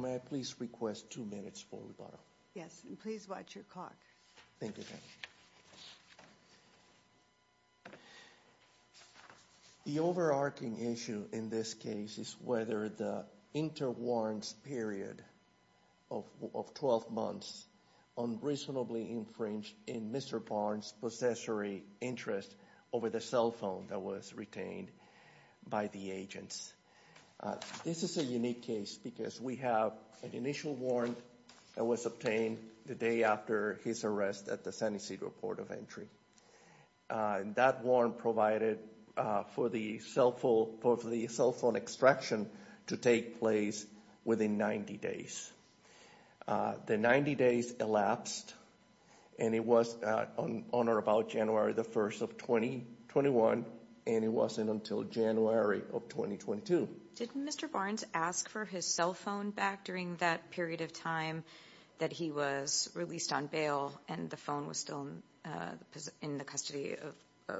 May I please request two minutes for rebuttal? Yes, and please watch your clock. Thank you. The overarching issue in this case is whether the interwarrants period of 12 months unreasonably infringed in Mr. Barnes' possessory interest over the cell phone that was retained by the agents. This is a unique case because we have an initial warrant that was obtained the day after his arrest at the San Ysidro Port of Entry. That warrant provided for the cell phone for the cell phone extraction to take place within 90 days. The 90 days elapsed and it was on or about January the 1st of 2021 and it wasn't until January of 2022. Did Mr. Barnes ask for his cell phone back during that period of time that he was released on bail and the phone was still in the custody of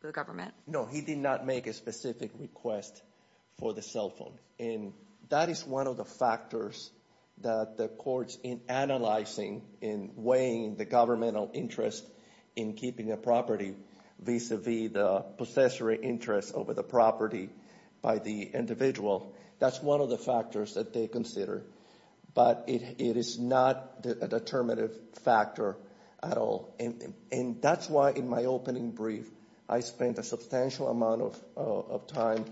the government? No, he did not make a specific request for the cell phone and that is one of the factors that the courts in analyzing in weighing the governmental interest in keeping a property vis-a-vis the possessory interest over the property by the individual. That's one of the factors that they consider, but it is not a determinative factor at all and that's why in my opening brief I spent a substantial amount of time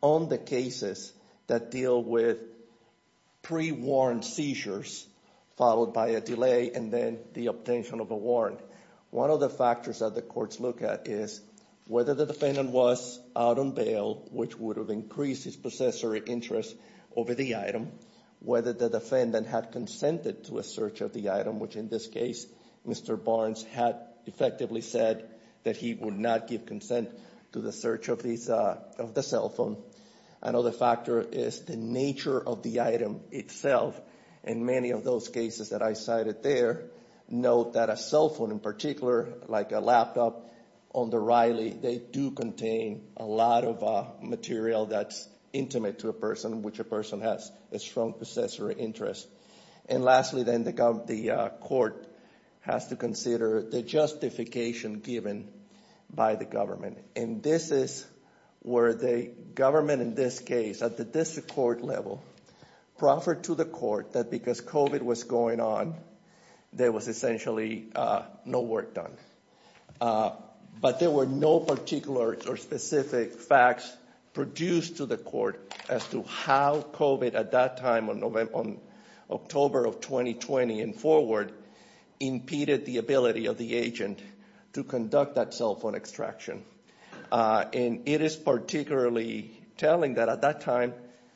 on the cases that deal with pre-warrant seizures followed by a delay and then the obtention of a warrant. One of the factors that the courts look at is whether the defendant was out on bail which would have increased his possessory interest over the item, whether the defendant had consented to a search of the item which in this case Mr. Barnes had effectively said that he would not give consent to the search of the cell phone. Another factor is the nature of the item itself and many of those cases that I cited there note that a cell phone in particular like a laptop on the Riley, they do contain a lot of material that's intimate to a person which a person has a strong possessory interest. And lastly then the court has to consider the justification given by the government and this is where the government in this case at the district court level proffered to the court that because COVID was going on there was essentially no work done. But there were no particular or specific facts produced to the court as to how COVID at that time on October of 2020 and forward impeded the ability of the agent to conduct that cell phone extraction. And it is particularly telling that at that time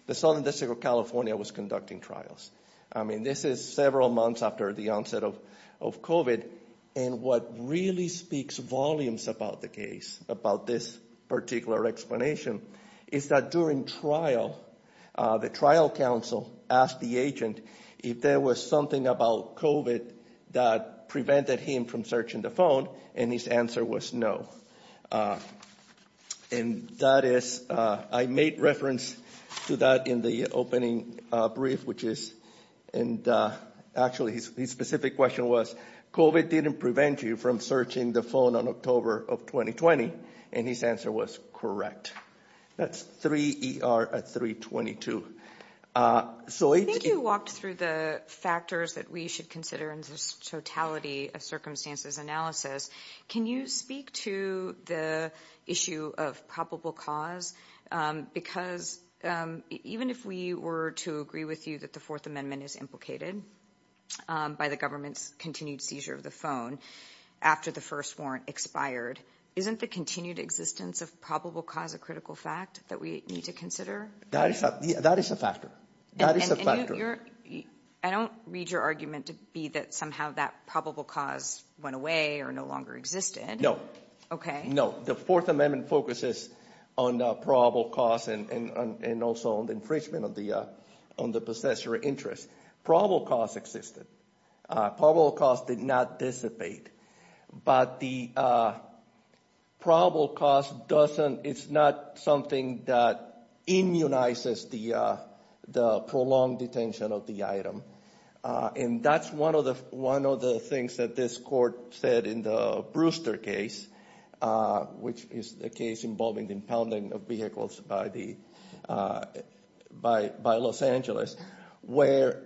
the Southern District of California was conducting trials. I mean this is several months after the onset of COVID and what really speaks volumes about the case, about this particular explanation is that during trial the trial counsel asked the agent if there was something about COVID that prevented him from searching the phone and his answer was no. And that is I made reference to that in the opening brief which is and actually his specific question was COVID didn't prevent you from searching the phone on October of 2020 and his answer was correct. That's 3ER at 322. So I think you walked through the factors that we should consider in this totality of circumstances analysis. Can you speak to the issue of probable cause because even if we were to agree with you that the Fourth Amendment is implicated by the government's continued seizure of the phone after the first warrant expired, isn't the continued existence of probable cause a critical fact that we need to consider? That is a factor. I don't read your argument to be that somehow that probable cause went away or no longer existed. Okay. No, the Fourth Amendment focuses on probable cause and also on the infringement on the possessor interest. Probable cause existed. Probable cause did not dissipate. But the probable cause doesn't, it's not something that immunizes the prolonged detention of the item. And that's one of the things that this court said in the Brewster case, which is the case involving the impounding of vehicles by Los Angeles, where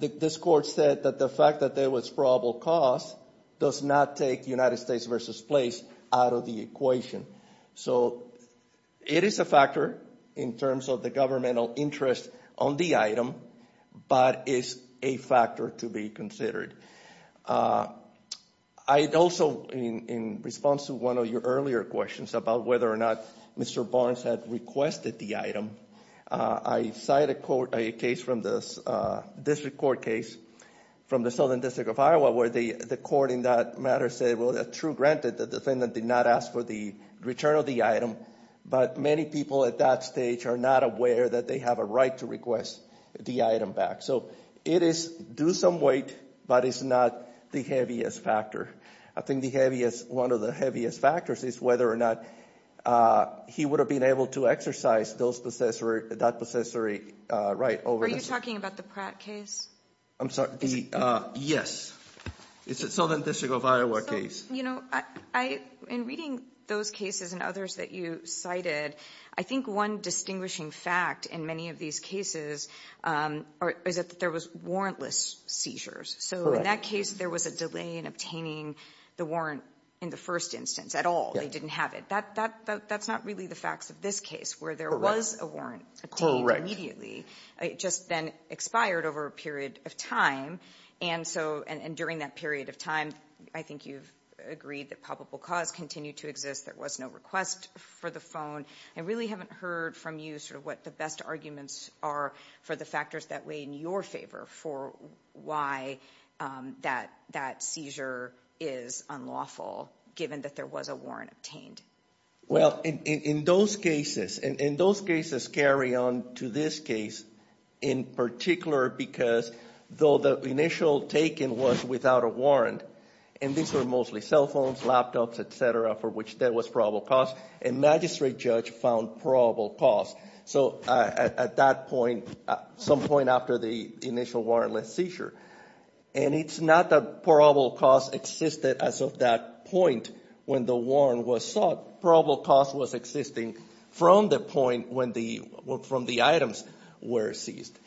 this court said that the fact that there was probable cause does not take United States versus place out of the equation. So it is a factor in terms of the governmental interest on the item, but it's a factor to be considered. I'd also, in response to one of your earlier questions about whether or not Mr. Barnes had requested the item, I cited a case from this district court case from the Southern District of Iowa, where the court in that matter said, well, true, granted, the defendant did not ask for the return of the item, but many people at that stage are not aware that they have a right to request the item back. So it is due some weight, but it's not the heaviest factor. I think one of the heaviest factors is whether or not he would have been able to exercise that possessory right over him. Are you talking about the Pratt case? I'm sorry. Yes. It's the Southern District of Iowa case. In reading those cases and others that you cited, I think one distinguishing fact in many of these cases is that there was warrantless seizures. So in that case, there was a delay in obtaining the warrant in the first instance at all. They didn't have it. That's not really the facts of this case, where there was a warrant obtained immediately. It just then expired over a period of time. And during that period of time, I think you've agreed that probable cause continued to exist. There was no request for the phone. I really haven't heard from you sort of what the best arguments are for the factors that weigh in your favor for why that seizure is unlawful, given that there was a warrant obtained. Well, in those cases, and those cases carry on to this case in particular because though the initial taking was without a warrant, and these were mostly cell phones, laptops, et cetera, for which there was probable cause, a magistrate judge found probable cause. So at that point, some point after the initial warrantless seizure, and it's not that probable cause existed as of that point when the warrant was sought. Probable cause was existing from the point when the items were seized.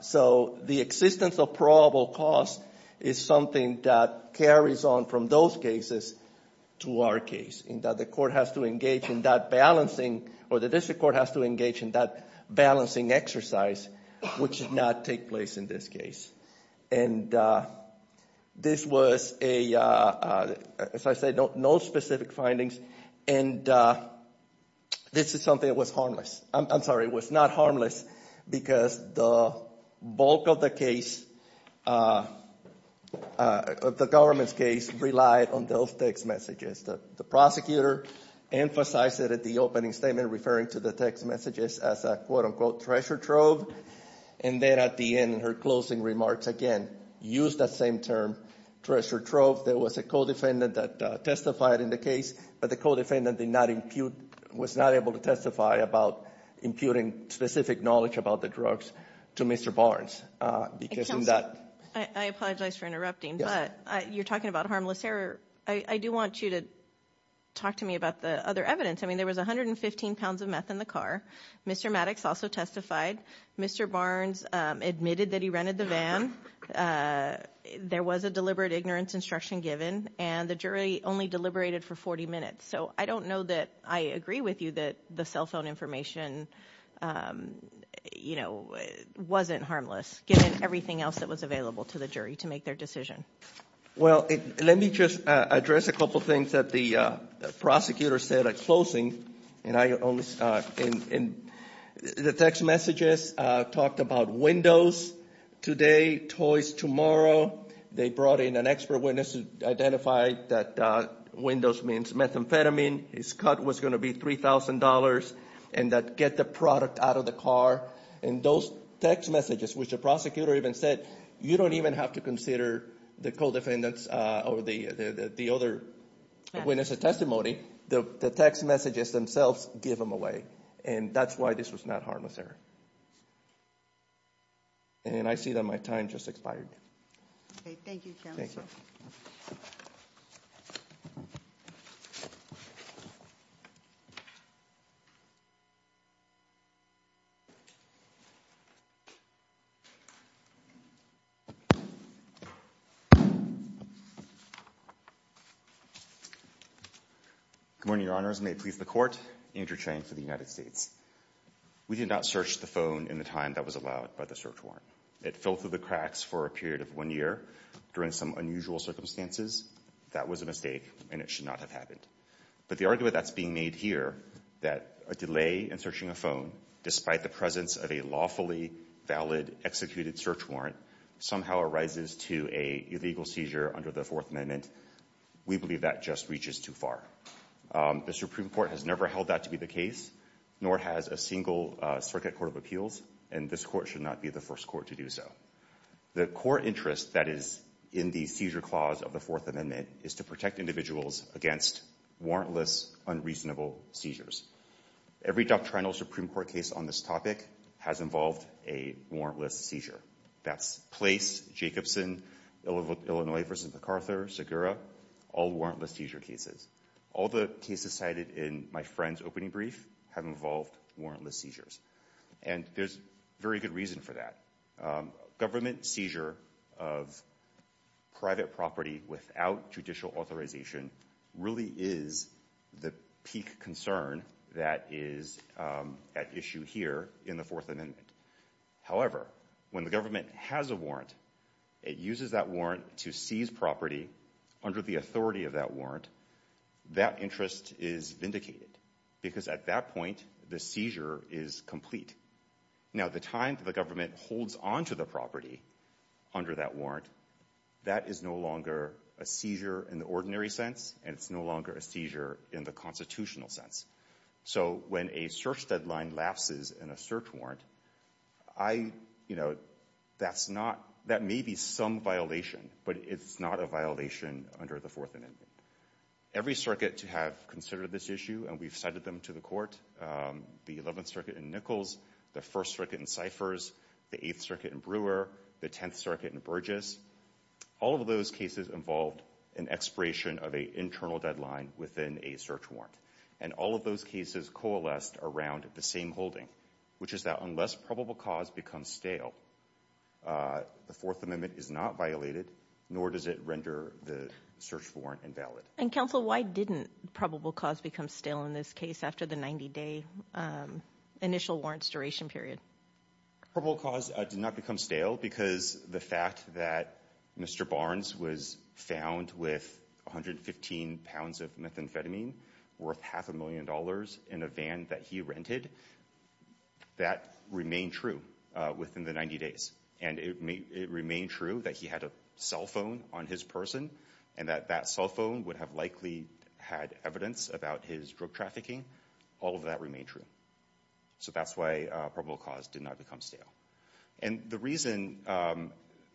So the existence of probable cause is something that carries on from those cases to our case, in that the court has to engage in that balancing, or the district court has to engage in that balancing exercise, which did not take place in this case. And this was a, as I said, no specific findings. And this is something that was harmless. I'm sorry, it was not harmless because the bulk of the case, the government's case, relied on those text messages. The prosecutor emphasized it at the opening statement, referring to the text messages as a, quote-unquote, treasure trove. And then at the end, in her closing remarks, again, used that same term, treasure trove. There was a co-defendant that testified in the case, but the co-defendant did not impute, was not able to testify about imputing specific knowledge about the drugs to Mr. Barnes. I apologize for interrupting, but you're talking about harmless error. I do want you to talk to me about the other evidence. I mean, there was 115 pounds of meth in the car. Mr. Maddox also testified. Mr. Barnes admitted that he rented the van. There was a deliberate ignorance instruction given, and the jury only deliberated for 40 minutes. So I don't know that I agree with you that the cell phone information, you know, wasn't harmless, given everything else that was available to the jury to make their decision. Well, let me just address a couple of things that the prosecutor said at closing. And I only – and the text messages talked about Windows today, toys tomorrow. They brought in an expert witness who identified that Windows means methamphetamine. His cut was going to be $3,000, and that get the product out of the car. And those text messages, which the prosecutor even said, you don't even have to consider the co-defendants or the other witnesses' testimony. The text messages themselves give them away. And that's why this was not harmless error. And I see that my time just expired. Okay. Thank you, counsel. Good morning, Your Honors. May it please the Court, Andrew Chang for the United States. We did not search the phone in the time that was allowed by the search warrant. It fell through the cracks for a period of one year during some unusual circumstances. That was a mistake, and it should not have happened. But the argument that's being made here, that a delay in searching a phone, despite the presence of a lawfully valid executed search warrant, somehow arises to an illegal seizure under the Fourth Amendment, we believe that just reaches too far. The Supreme Court has never held that to be the case, nor has a single circuit court of appeals, and this court should not be the first court to do so. The core interest that is in the seizure clause of the Fourth Amendment is to protect individuals against warrantless, unreasonable seizures. Every doctrinal Supreme Court case on this topic has involved a warrantless seizure. That's Place, Jacobson, Illinois v. MacArthur, Segura, all warrantless seizure cases. All the cases cited in my friend's opening brief have involved warrantless seizures. And there's very good reason for that. Government seizure of private property without judicial authorization really is the peak concern that is at issue here in the Fourth Amendment. However, when the government has a warrant, it uses that warrant to seize property under the authority of that warrant, that interest is vindicated, because at that point, the seizure is complete. Now, the time that the government holds onto the property under that warrant, that is no longer a seizure in the ordinary sense, and it's no longer a seizure in the constitutional sense. So when a search deadline lapses in a search warrant, that may be some violation, but it's not a violation under the Fourth Amendment. Every circuit to have considered this issue, and we've cited them to the court, the 11th Circuit in Nichols, the 1st Circuit in Cyphers, the 8th Circuit in Brewer, the 10th Circuit in Burgess, all of those cases involved an expiration of an internal deadline within a search warrant. And all of those cases coalesced around the same holding, which is that unless probable cause becomes stale, the Fourth Amendment is not violated, nor does it render the search warrant invalid. And counsel, why didn't probable cause become stale in this case after the 90-day initial warrants duration period? Probable cause did not become stale because the fact that Mr. Barnes was found with 115 pounds of methamphetamine worth half a million dollars in a van that he rented, that remained true within the 90 days. And it remained true that he had a cell phone on his person and that that cell phone would have likely had evidence about his drug trafficking. All of that remained true. So that's why probable cause did not become stale. And the reason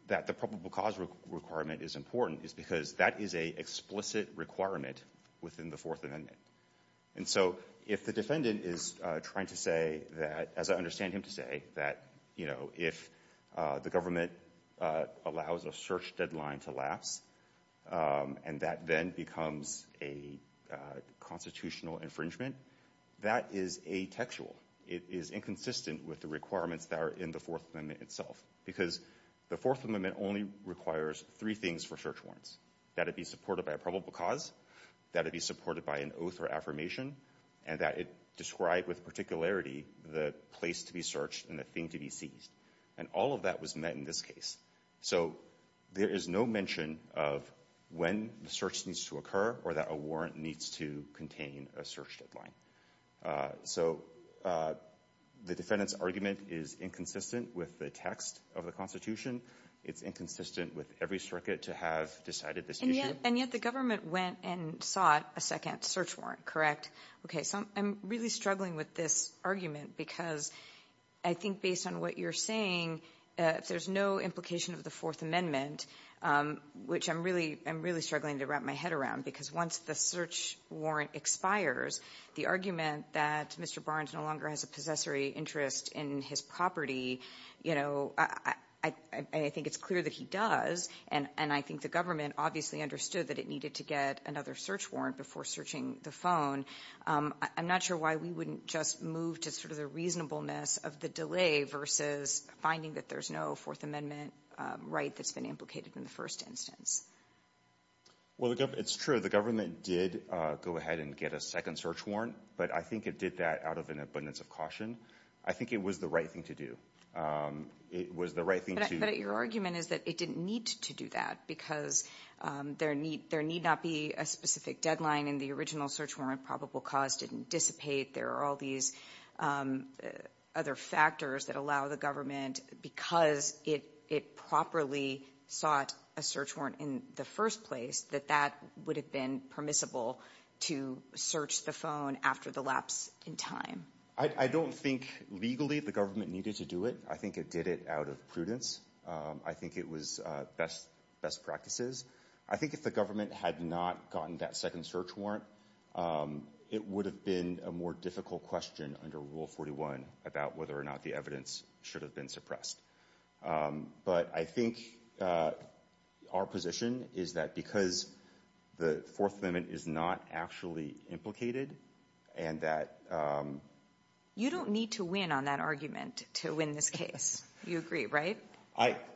that the probable cause requirement is important is because that is an explicit requirement within the Fourth Amendment. And so if the defendant is trying to say that, as I understand him to say, that if the government allows a search deadline to lapse and that then becomes a constitutional infringement, that is atextual. It is inconsistent with the requirements that are in the Fourth Amendment itself because the Fourth Amendment only requires three things for search warrants, that it be supported by a probable cause, that it be supported by an oath or affirmation, and that it describe with particularity the place to be searched and the thing to be seized. And all of that was met in this case. So there is no mention of when the search needs to occur or that a warrant needs to contain a search deadline. So the defendant's argument is inconsistent with the text of the Constitution. It's inconsistent with every circuit to have decided this issue. And yet the government went and sought a second search warrant, correct? Okay, so I'm really struggling with this argument because I think based on what you're saying, if there's no implication of the Fourth Amendment, which I'm really struggling to wrap my head around because once the search warrant expires, the argument that Mr. Barnes no longer has a possessory interest in his property, you know, I think it's clear that he does, and I think the government obviously understood that it needed to get another search warrant before searching the phone. I'm not sure why we wouldn't just move to sort of the reasonableness of the delay versus finding that there's no Fourth Amendment right that's been implicated in the first instance. Well, it's true. The government did go ahead and get a second search warrant, but I think it did that out of an abundance of caution. I think it was the right thing to do. It was the right thing to do. But your argument is that it didn't need to do that because there need not be a specific deadline in the original search warrant. Probable cause didn't dissipate. There are all these other factors that allow the government, because it properly sought a search warrant in the first place, that that would have been permissible to search the phone after the lapse in time. I don't think legally the government needed to do it. I think it did it out of prudence. I think it was best practices. I think if the government had not gotten that second search warrant, it would have been a more difficult question under Rule 41 about whether or not the evidence should have been suppressed. But I think our position is that because the Fourth Amendment is not actually implicated and that— You don't need to win on that argument to win this case. You agree, right?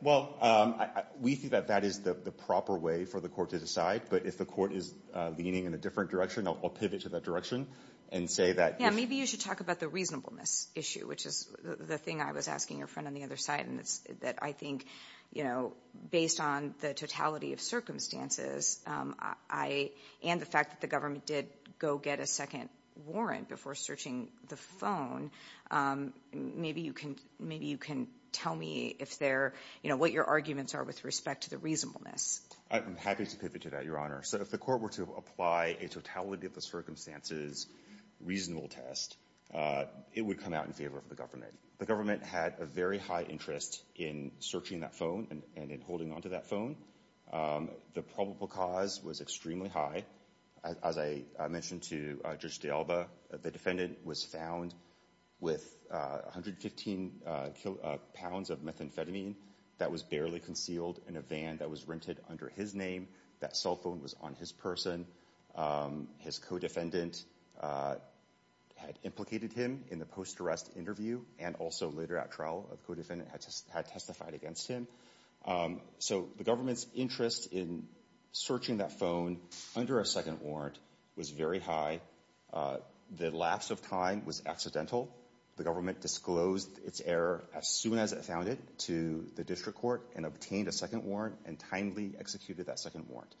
Well, we think that that is the proper way for the court to decide, but if the court is leaning in a different direction, I'll pivot to that direction and say that— Yeah, maybe you should talk about the reasonableness issue, which is the thing I was asking your friend on the other side, and it's that I think based on the totality of circumstances and the fact that the government did go get a second warrant before searching the phone, maybe you can tell me what your arguments are with respect to the reasonableness. I'm happy to pivot to that, Your Honor. So if the court were to apply a totality of the circumstances reasonable test, it would come out in favor of the government. The government had a very high interest in searching that phone and in holding onto that phone. The probable cause was extremely high. As I mentioned to Judge de Alba, the defendant was found with 115 pounds of methamphetamine that was barely concealed in a van that was rented under his name. That cell phone was on his person. His co-defendant had implicated him in the post-arrest interview and also later at trial, a co-defendant had testified against him. So the government's interest in searching that phone under a second warrant was very high. The lapse of time was accidental. The government disclosed its error as soon as it found it to the district court and obtained a second warrant and timely executed that second warrant.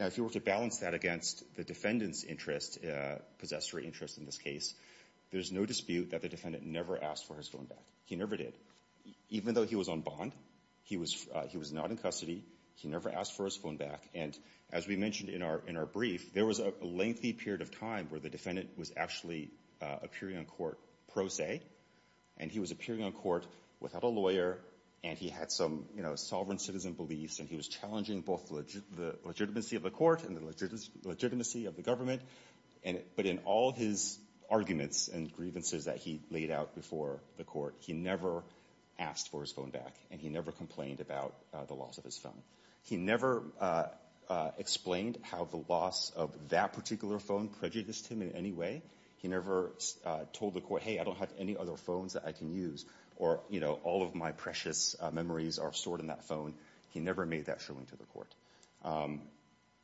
Now if you were to balance that against the defendant's interest, possessory interest in this case, there's no dispute that the defendant never asked for his phone back. He never did. Even though he was on bond, he was not in custody, he never asked for his phone back. And as we mentioned in our brief, there was a lengthy period of time where the defendant was actually appearing on court pro se, and he was appearing on court without a lawyer and he had some sovereign citizen beliefs and he was challenging both the legitimacy of the court and the legitimacy of the government. But in all his arguments and grievances that he laid out before the court, he never asked for his phone back and he never complained about the loss of his phone. He never explained how the loss of that particular phone prejudiced him in any way. He never told the court, hey, I don't have any other phones that I can use or all of my precious memories are stored in that phone. He never made that showing to the court.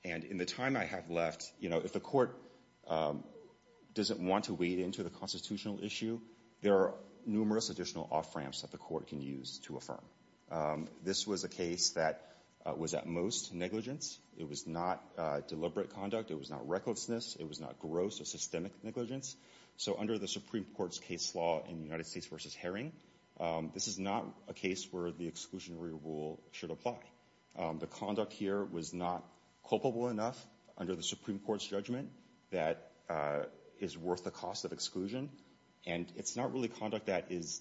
And in the time I have left, if the court doesn't want to wade into the constitutional issue, there are numerous additional off-ramps that the court can use to affirm. This was a case that was at most negligence. It was not deliberate conduct. It was not recklessness. It was not gross or systemic negligence. So under the Supreme Court's case law in United States v. Herring, this is not a case where the exclusionary rule should apply. The conduct here was not culpable enough under the Supreme Court's judgment that is worth the cost of exclusion, and it's not really conduct that is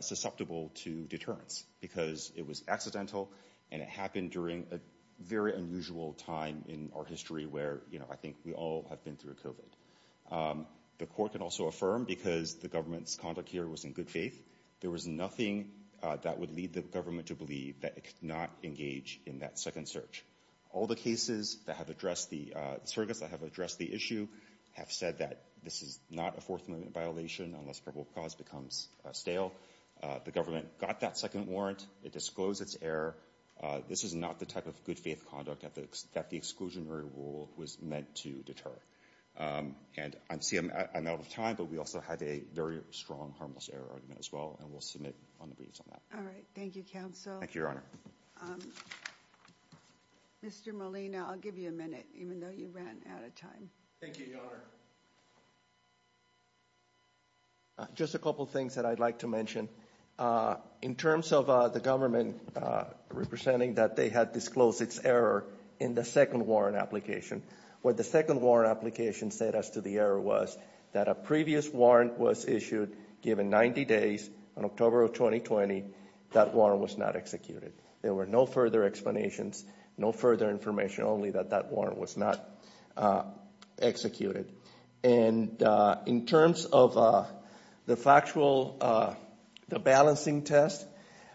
susceptible to deterrence because it was accidental and it happened during a very unusual time in our history where, you know, I think we all have been through COVID. The court can also affirm, because the government's conduct here was in good faith, there was nothing that would lead the government to believe that it could not engage in that second search. All the cases that have addressed the—the surrogates that have addressed the issue have said that this is not a Fourth Amendment violation unless probable cause becomes stale. The government got that second warrant. It disclosed its error. This is not the type of good faith conduct that the exclusionary rule was meant to deter. And I'm out of time, but we also have a very strong harmless error argument as well, and we'll submit on the briefs on that. All right. Thank you, counsel. Thank you, Your Honor. Mr. Molina, I'll give you a minute, even though you ran out of time. Thank you, Your Honor. Just a couple things that I'd like to mention. In terms of the government representing that they had disclosed its error in the second warrant application, what the second warrant application said as to the error was that a previous warrant was issued, given 90 days, on October of 2020, that warrant was not executed. There were no further explanations, no further information, only that that warrant was not executed. And in terms of the factual balancing test,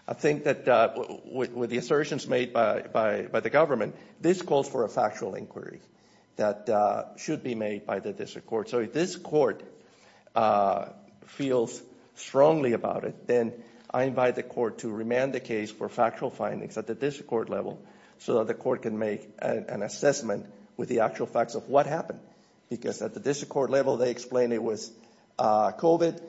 I think that with the assertions made by the government, this calls for a factual inquiry that should be made by the district court. So if this court feels strongly about it, then I invite the court to remand the case for factual findings at the district court level so that the court can make an assessment with the actual facts of what happened. Because at the district court level, they explained it was COVID.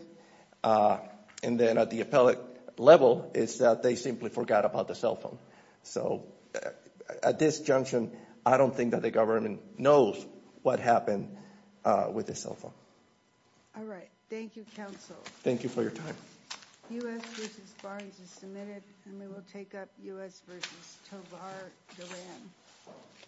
And then at the appellate level, it's that they simply forgot about the cell phone. So at this junction, I don't think that the government knows what happened with the cell phone. All right. Thank you, counsel. Thank you for your time. U.S. v. Barnes is submitted, and we will take up U.S. v. Tovar Duran.